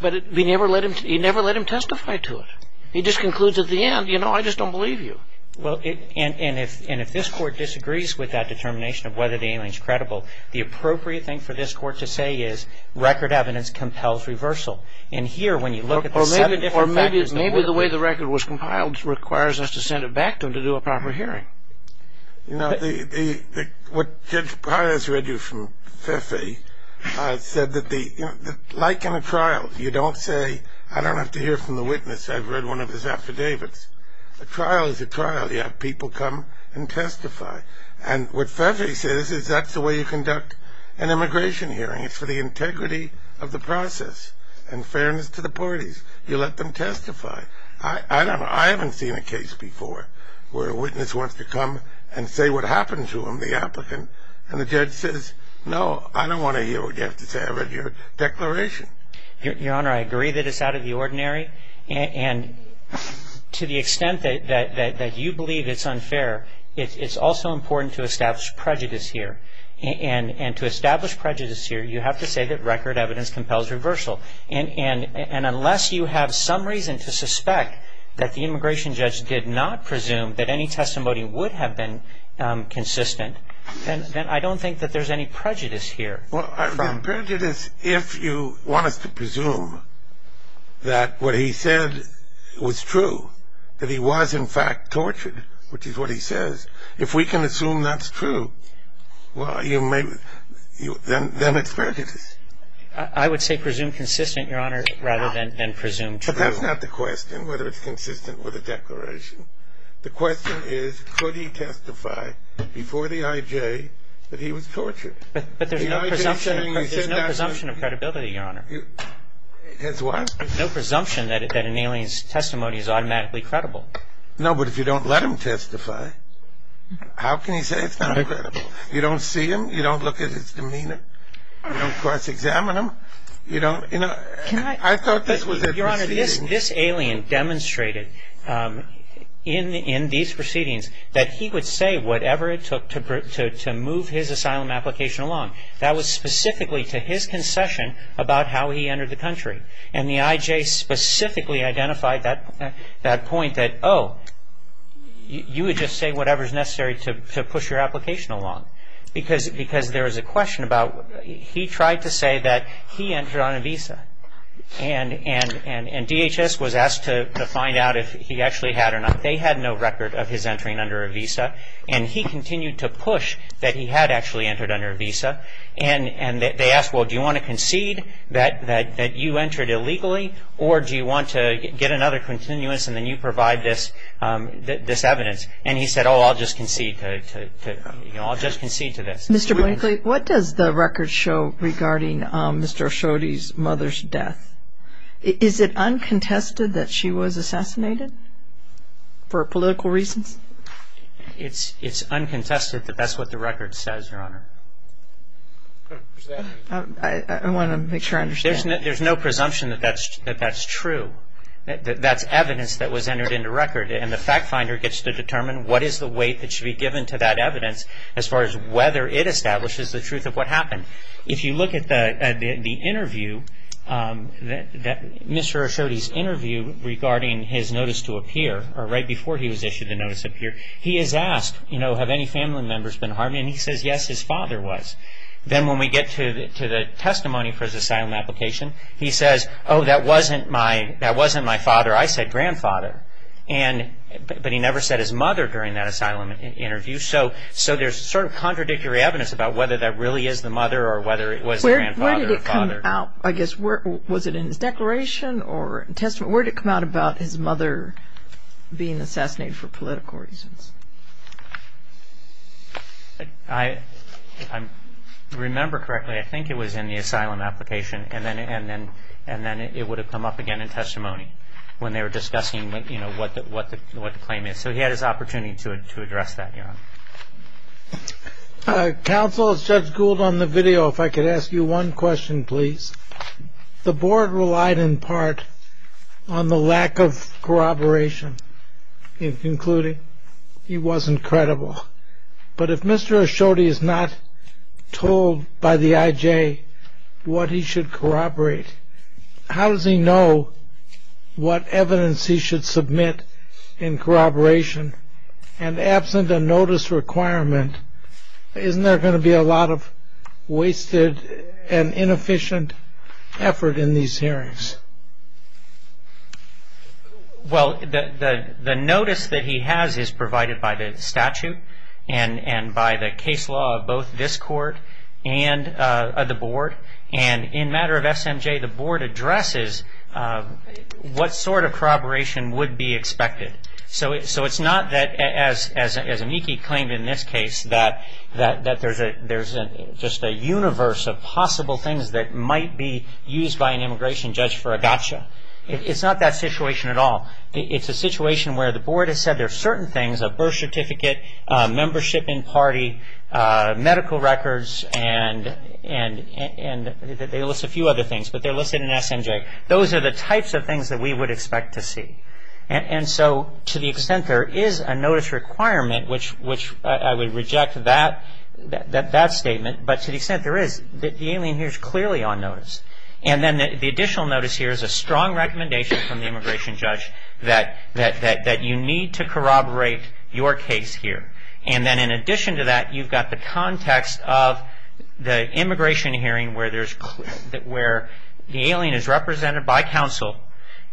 But he never let him testify to it. He just concludes at the end, you know, I just don't believe you. Well, and if this Court disagrees with that determination of whether the alien is credible, the appropriate thing for this Court to say is record evidence compels reversal. And here, when you look at the seven different factors that work. Or maybe the way the record was compiled requires us to send it back to him to do a proper hearing. You know, what Judge Pires read you from FIFI said that, like in a trial, you don't say, I don't have to hear from the witness. I've read one of his affidavits. A trial is a trial. You have people come and testify. And what FIFI says is that's the way you conduct an immigration hearing. It's for the integrity of the process and fairness to the parties. You let them testify. I don't know. I haven't seen a case before where a witness wants to come and say what happened to him, the applicant, and the judge says, no, I don't want to hear what you have to say. I don't want to hear what you have to say. You have to have a fair and fair declaration. Your Honor, I agree that it's out of the ordinary. And to the extent that you believe it's unfair, it's also important to establish prejudice here. And to establish prejudice here, you have to say that record evidence compels reversal. And unless you have some reason to suspect that the immigration judge did not presume that any testimony would have been consistent, then I don't think that there's any prejudice here. Well, prejudice, if you want us to presume that what he said was true, that he was in fact tortured, which is what he says, if we can assume that's true, well, then it's prejudice. I would say presume consistent, Your Honor, rather than presume true. But that's not the question, whether it's consistent with a declaration. The question is, could he testify before the IJ that he was tortured? But there's no presumption of credibility, Your Honor. There's what? No presumption that an alien's testimony is automatically credible. No, but if you don't let him testify, how can you say it's not credible? You don't see him. You don't look at his demeanor. You don't cross-examine him. I thought this was a proceeding. Your Honor, this alien demonstrated in these proceedings that he would say whatever it took to move his asylum application along. That was specifically to his concession about how he entered the country. And the IJ specifically identified that point that, oh, you would just say whatever's necessary to push your application along. Because there was a question about, he tried to say that he entered on a visa. And DHS was asked to find out if he actually had or not. They had no record of his entering under a visa. And he continued to push that he had actually entered under a visa. And they asked, well, do you want to concede that you entered illegally, or do you want to get another continuous and then you provide this evidence? And he said, oh, I'll just concede to this. Mr. Blankley, what does the record show regarding Mr. O'Shodey's mother's death? Is it uncontested that she was assassinated for political reasons? It's uncontested that that's what the record says, Your Honor. I want to make sure I understand. There's no presumption that that's true. That's evidence that was entered into record. And the fact finder gets to determine what is the weight that should be given to that evidence as far as whether it establishes the truth of what happened. If you look at the interview, Mr. O'Shodey's interview regarding his notice to appear, or right before he was issued the notice to appear, he is asked, you know, have any family members been harmed? And he says, yes, his father was. Then when we get to the testimony for his asylum application, he says, oh, that wasn't my father. I said grandfather. But he never said his mother during that asylum interview. So there's sort of contradictory evidence about whether that really is the mother or whether it was the grandfather or father. Where did it come out? I guess, was it in his declaration or testament? Where did it come out about his mother being assassinated for political reasons? If I remember correctly, I think it was in the asylum application, and then it would have come up again in testimony when they were discussing, you know, what the claim is. So he had his opportunity to address that, yeah. Counsel, as Judge Gould on the video, if I could ask you one question, please. The board relied in part on the lack of corroboration, including he wasn't credible. But if Mr. O'Shodey is not told by the IJ what he should corroborate, how does he know what evidence he should submit in corroboration? And absent a notice requirement, isn't there going to be a lot of wasted and inefficient effort in these hearings? Well, the notice that he has is provided by the statute and by the case law of both this court and the board. And in matter of SMJ, the board addresses what sort of corroboration would be expected. So it's not that, as Amiki claimed in this case, that there's just a universe of possible things that might be used by an immigration judge for a gotcha. It's not that situation at all. It's a situation where the board has said there are certain things, a birth certificate, membership in party, medical records, and they list a few other things, but they're listed in SMJ. Those are the types of things that we would expect to see. And so to the extent there is a notice requirement, which I would reject that statement, but to the extent there is, the alien here is clearly on notice. And then the additional notice here is a strong recommendation from the immigration judge that you need to corroborate your case here. And then in addition to that, you've got the context of the immigration hearing where the alien is represented by counsel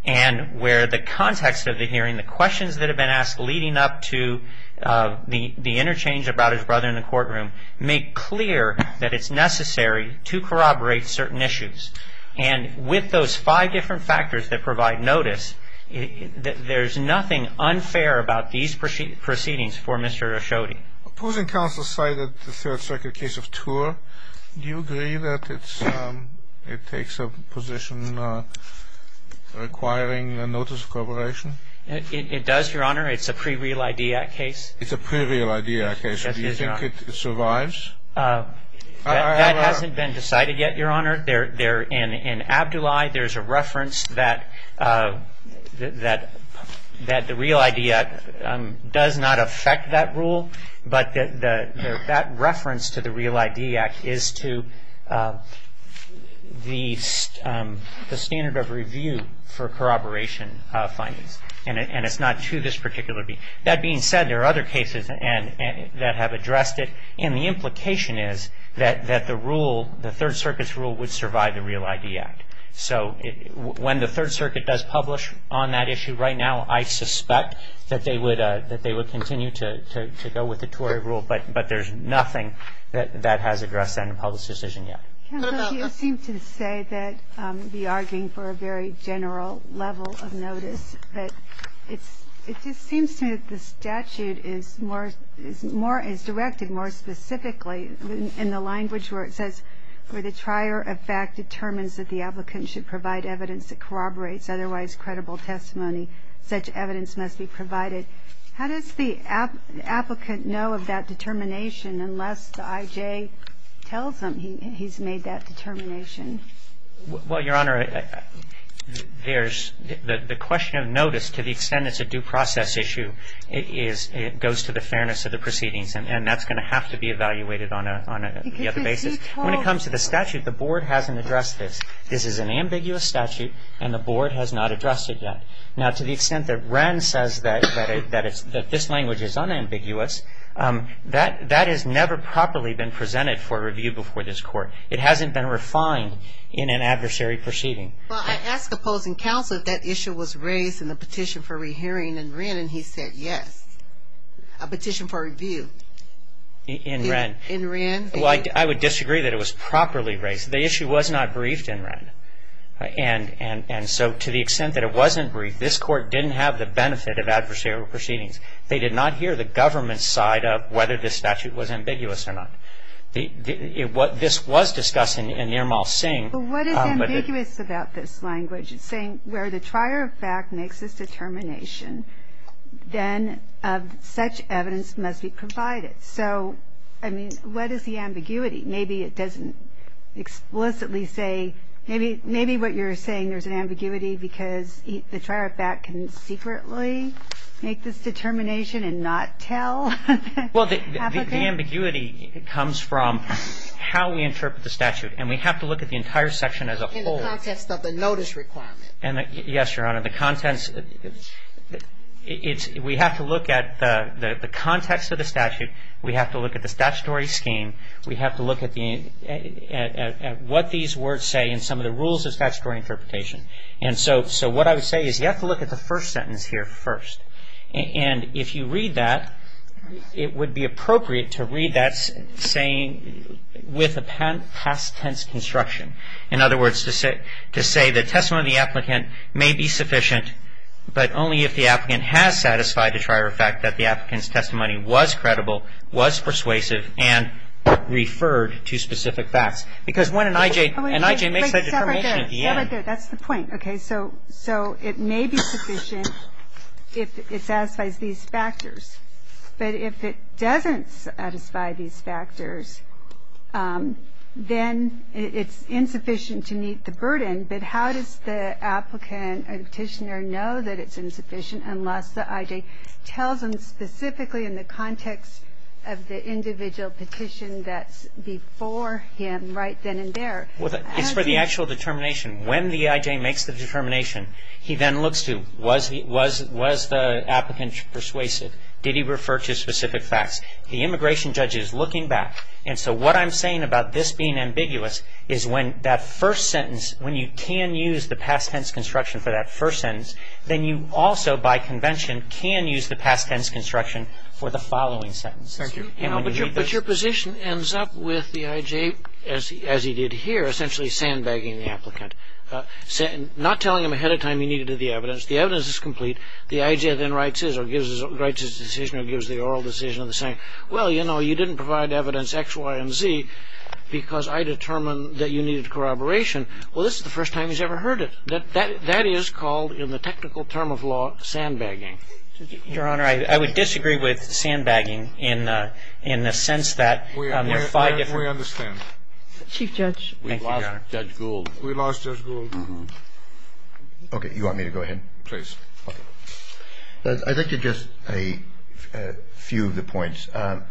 and where the context of the hearing, the questions that have been asked leading up to the interchange about his brother in the courtroom, make clear that it's necessary to corroborate certain issues. And with those five different factors that provide notice, there's nothing unfair about these proceedings for Mr. Ashodi. Opposing counsel cited the third circuit case of TOUR. Do you agree that it takes a position requiring the notice of corroboration? It does, Your Honor. It's a pre-Real ID Act case. It's a pre-Real ID Act case. Do you think it survives? That hasn't been decided yet, Your Honor. In Abdoulaye, there's a reference that the Real ID Act does not affect that rule, but that reference to the Real ID Act is to the standard of review for corroboration findings. And it's not to this particular case. That being said, there are other cases that have addressed it. And the implication is that the rule, the third circuit's rule, would survive the Real ID Act. So when the third circuit does publish on that issue right now, I suspect that they would continue to go with the TOUR rule. But there's nothing that has addressed that in a public decision yet. Counsel, you seem to say that you're arguing for a very general level of notice. It just seems to me that the statute is directed more specifically in the language where it says, where the trier of fact determines that the applicant should provide evidence that corroborates otherwise credible testimony. Such evidence must be provided. How does the applicant know of that determination unless the IJ tells him he's made that determination? Well, Your Honor, there's the question of notice, to the extent it's a due process issue, it goes to the fairness of the proceedings. And that's going to have to be evaluated on the other basis. When it comes to the statute, the Board hasn't addressed this. This is an ambiguous statute, and the Board has not addressed it yet. Now, to the extent that Rand says that this language is unambiguous, that has never properly been presented for review before this Court. It hasn't been refined in an adversary proceeding. Well, I asked opposing counsel if that issue was raised in the petition for re-hearing in Wren, and he said yes. A petition for review. In Wren? In Wren. Well, I would disagree that it was properly raised. The issue was not briefed in Wren. And so, to the extent that it wasn't briefed, this Court didn't have the benefit of adversarial proceedings. They did not hear the government's side of whether this statute was ambiguous or not. What this was discussing in Nirmal Singh. What is ambiguous about this language? It's saying where the trier of fact makes this determination, then such evidence must be provided. So, I mean, what is the ambiguity? Maybe it doesn't explicitly say. Maybe what you're saying, there's an ambiguity because the trier of fact can secretly make this determination and not tell? Well, the ambiguity comes from how we interpret the statute. And we have to look at the entire section as a whole. In the context of the notice requirement. Yes, Your Honor. The contents, we have to look at the context of the statute. We have to look at the statutory scheme. We have to look at what these words say and some of the rules of statutory interpretation. And so, what I would say is you have to look at the first sentence here first. And if you read that, it would be appropriate to read that saying with a past tense construction. In other words, to say the testimony of the applicant may be sufficient, but only if the applicant has satisfied the trier of fact that the applicant's testimony was credible, was persuasive, and referred to specific facts. Because when an IJ makes that determination at the end. That's the point. Okay, so it may be sufficient if it satisfies these factors. But if it doesn't satisfy these factors, then it's insufficient to meet the burden. But how does the applicant or petitioner know that it's insufficient unless the IJ tells them specifically in the context of the individual petition that's before him right then and there. It's for the actual determination. When the IJ makes the determination, he then looks to, was the applicant persuasive? Did he refer to specific facts? The immigration judge is looking back. And so, what I'm saying about this being ambiguous is when that first sentence, when you can use the past tense construction for that first sentence, then you also by convention can use the past tense construction for the following sentence. Thank you. But your position ends up with the IJ, as he did here, essentially sandbagging the applicant. Not telling him ahead of time he needed the evidence. The evidence is complete. The IJ then writes his decision or gives the oral decision saying, well, you know, you didn't provide evidence X, Y, and Z because I determined that you needed corroboration. Well, this is the first time he's ever heard it. That is called in the technical term of law sandbagging. Your Honor, I would disagree with sandbagging in the sense that there are five different. We understand. Chief Judge. Thank you, Your Honor. Judge Gould. We lost Judge Gould. Okay. You want me to go ahead? Please. Okay. I'd like to just a few of the points. I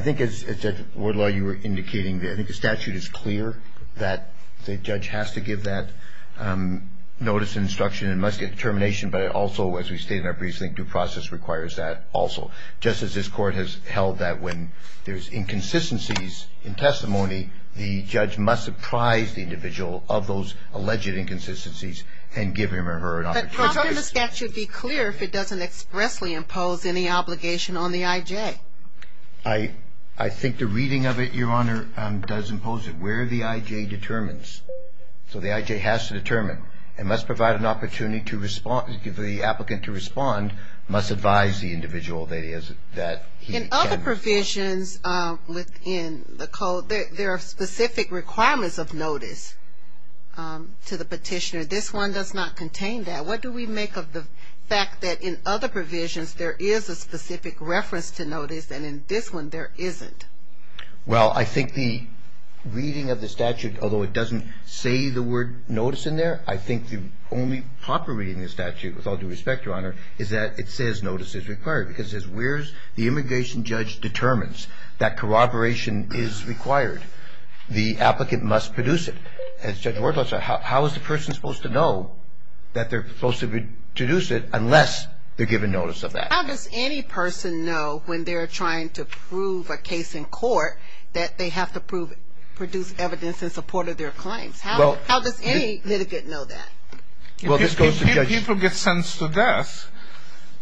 think as Judge Wardlaw, you were indicating, I think the statute is clear that the judge has to give that notice and instruction and must get determination, but also as we stated in our briefs, I think due process requires that also. Just as this Court has held that when there's inconsistencies in testimony, the judge must surprise the individual of those alleged inconsistencies and give him or her an opportunity. But how can the statute be clear if it doesn't expressly impose any obligation on the IJ? I think the reading of it, Your Honor, does impose it where the IJ determines. So the IJ has to determine. It must provide an opportunity to give the applicant to respond, must advise the individual that he can. In other provisions within the code, there are specific requirements of notice to the petitioner. This one does not contain that. What do we make of the fact that in other provisions there is a specific reference to notice and in this one there isn't? Well, I think the reading of the statute, although it doesn't say the word notice in there, I think the only proper reading of the statute, with all due respect, Your Honor, is that it says notice is required because it says where the immigration judge determines that corroboration is required, the applicant must produce it. As Judge Ward notes, how is the person supposed to know that they're supposed to produce it unless they're given notice of that? How does any person know when they're trying to prove a case in court that they have to produce evidence in support of their claims? How does any litigant know that? If people get sentenced to death,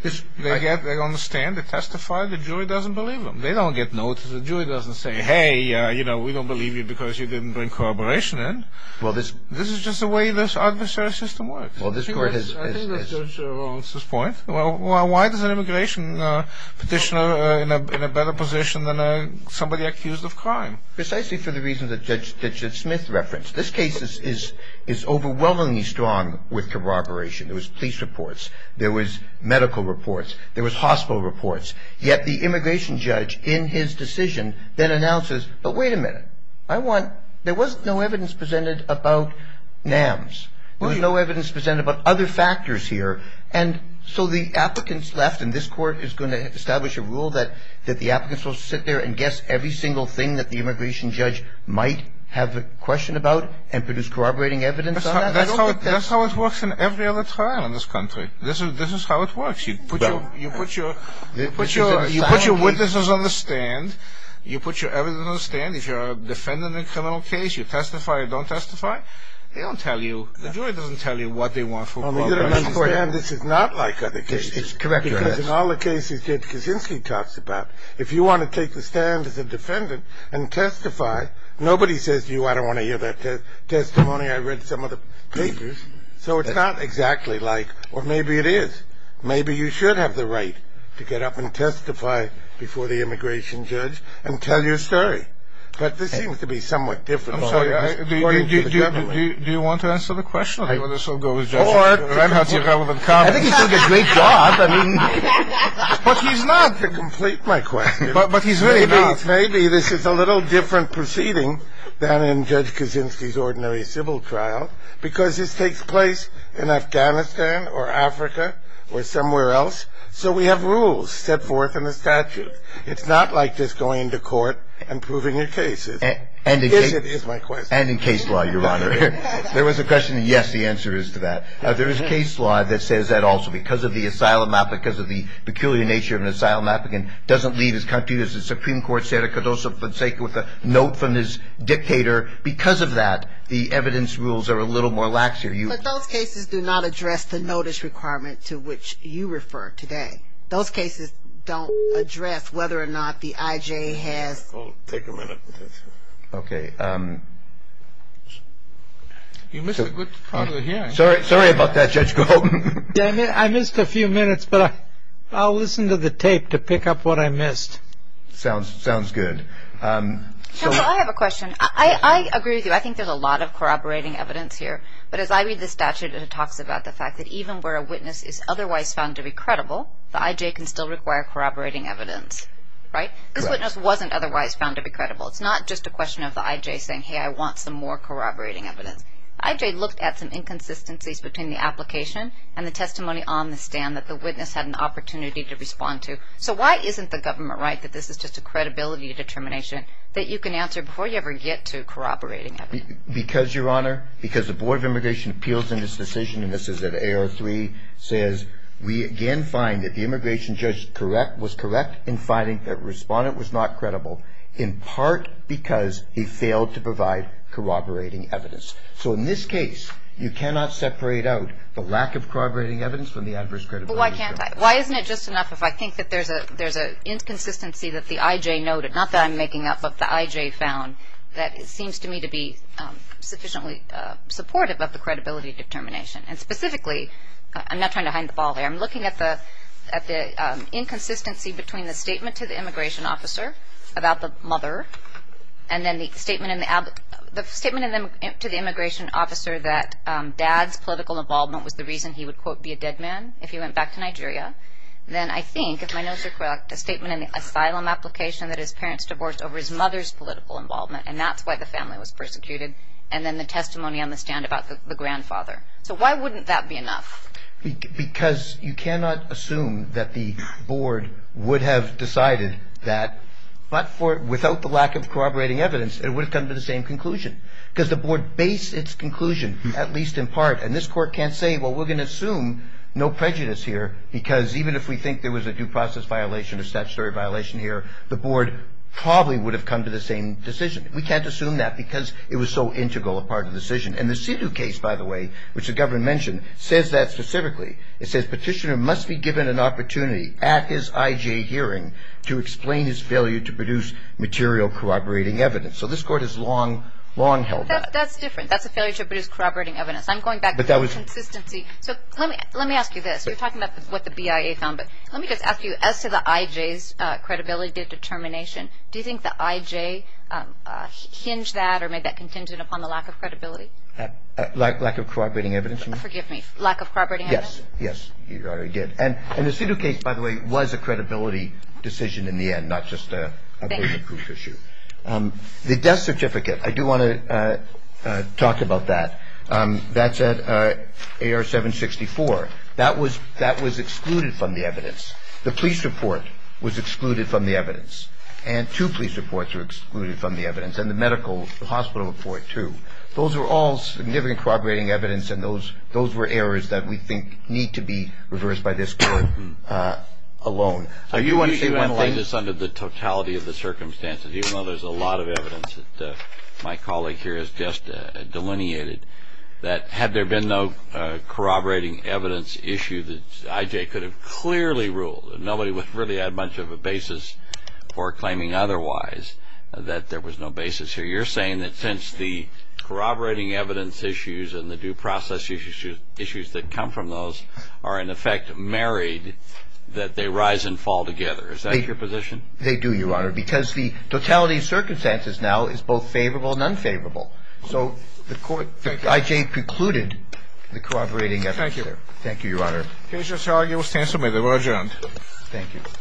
they understand, they testify, the jury doesn't believe them. They don't get notice. The jury doesn't say, hey, you know, we don't believe you because you didn't bring corroboration in. This is just the way this adversary system works. I think that's Judge Rowland's point. Why does an immigration petitioner in a better position than somebody accused of crime? Precisely for the reasons that Judge Smith referenced. This case is overwhelmingly strong with corroboration. There was police reports. There was medical reports. There was hospital reports. Yet the immigration judge in his decision then announces, but wait a minute. I want – there was no evidence presented about NAMS. There was no evidence presented about other factors here. And so the applicants left, and this court is going to establish a rule that the applicants will sit there and guess every single thing that the immigration judge might have a question about and produce corroborating evidence on that? That's how it works in every other trial in this country. This is how it works. You put your witnesses on the stand. You put your evidence on the stand. If you're a defendant in a criminal case, you testify or you don't testify. The jury doesn't tell you what they want from you. You've got to understand this is not like other cases. Correct your ass. Because in all the cases Judge Kaczynski talks about, if you want to take the stand as a defendant and testify, nobody says to you, I don't want to hear that testimony. I read some of the papers. So it's not exactly like – or maybe it is. Maybe you should have the right to get up and testify before the immigration judge and tell your story. But this seems to be somewhat different. I'm sorry. Do you want to answer the question or do you want us all to go as judges? I think he's doing a great job. But he's not to complete my question. But he's really not. Maybe this is a little different proceeding than in Judge Kaczynski's ordinary civil trial because this takes place in Afghanistan or Africa or somewhere else. So we have rules set forth in the statute. It's not like just going to court and proving your cases. Is it is my question. And in case law, Your Honor. There was a question and, yes, the answer is to that. There is case law that says that also. Because of the asylum applicant, because of the peculiar nature of an asylum applicant, doesn't leave his country, the Supreme Court said, I could also forsake with a note from this dictator. Because of that, the evidence rules are a little more lax here. But those cases do not address the notice requirement to which you refer today. Those cases don't address whether or not the IJ has. Take a minute. Okay. You missed a good part of the hearing. Sorry about that, Judge Golden. I missed a few minutes, but I'll listen to the tape to pick up what I missed. Sounds good. Counsel, I have a question. I agree with you. I think there's a lot of corroborating evidence here. But as I read the statute, it talks about the fact that even where a witness is otherwise found to be credible, the IJ can still require corroborating evidence. Right? This witness wasn't otherwise found to be credible. It's not just a question of the IJ saying, hey, I want some more corroborating evidence. The IJ looked at some inconsistencies between the application and the testimony on the stand that the witness had an opportunity to respond to. So why isn't the government right that this is just a credibility determination that you can answer before you ever get to corroborating evidence? Because, Your Honor, because the Board of Immigration Appeals in this decision, and this is at A03, says, we again find that the immigration judge was correct in finding that the respondent was not credible in part because he failed to provide corroborating evidence. So in this case, you cannot separate out the lack of corroborating evidence from the adverse credibility. But why can't I? Why isn't it just enough if I think that there's an inconsistency that the IJ noted, not that I'm making up, but the IJ found, that seems to me to be sufficiently supportive of the credibility determination. And specifically, I'm not trying to hide the ball there. I'm looking at the inconsistency between the statement to the immigration officer about the mother and then the statement to the immigration officer that dad's political involvement was the reason he would, quote, be a dead man if he went back to Nigeria. Then I think, if my notes are correct, a statement in the asylum application that his parents divorced over his mother's political involvement, and that's why the family was persecuted. And then the testimony on the stand about the grandfather. So why wouldn't that be enough? Because you cannot assume that the board would have decided that, but without the lack of corroborating evidence, it would have come to the same conclusion. Because the board based its conclusion, at least in part, and this court can't say, well, we're going to assume no prejudice here, because even if we think there was a due process violation, a statutory violation here, the board probably would have come to the same decision. We can't assume that because it was so integral a part of the decision. And the Sidhu case, by the way, which the governor mentioned, says that specifically. It says petitioner must be given an opportunity at his IJ hearing to explain his failure to produce material corroborating evidence. So this court has long, long held that. That's different. That's a failure to produce corroborating evidence. I'm going back to the consistency. So let me ask you this. You're talking about what the BIA found, but let me just ask you, as to the IJ's credibility determination, do you think the IJ hinged that or made that contingent upon the lack of credibility? Lack of corroborating evidence, you mean? Forgive me. Lack of corroborating evidence? Yes. Yes, you already did. And the Sidhu case, by the way, was a credibility decision in the end, not just a proven proof issue. The death certificate, I do want to talk about that. That's at AR 764. That was excluded from the evidence. The police report was excluded from the evidence. And two police reports were excluded from the evidence. And the medical hospital report, too. Those were all significant corroborating evidence, and those were errors that we think need to be reversed by this court alone. I usually want to lay this under the totality of the circumstances, even though there's a lot of evidence that my colleague here has just delineated, that had there been no corroborating evidence issue, the IJ could have clearly ruled that nobody really had much of a basis for claiming otherwise, that there was no basis here. You're saying that since the corroborating evidence issues and the due process issues that come from those are, in effect, married, that they rise and fall together. Is that your position? They do, Your Honor, because the totality of circumstances now is both favorable and unfavorable. So the court, the IJ precluded the corroborating evidence. Thank you. Thank you, Your Honor. Cases, Your Honor, give us 10 minutes. We're adjourned. Thank you.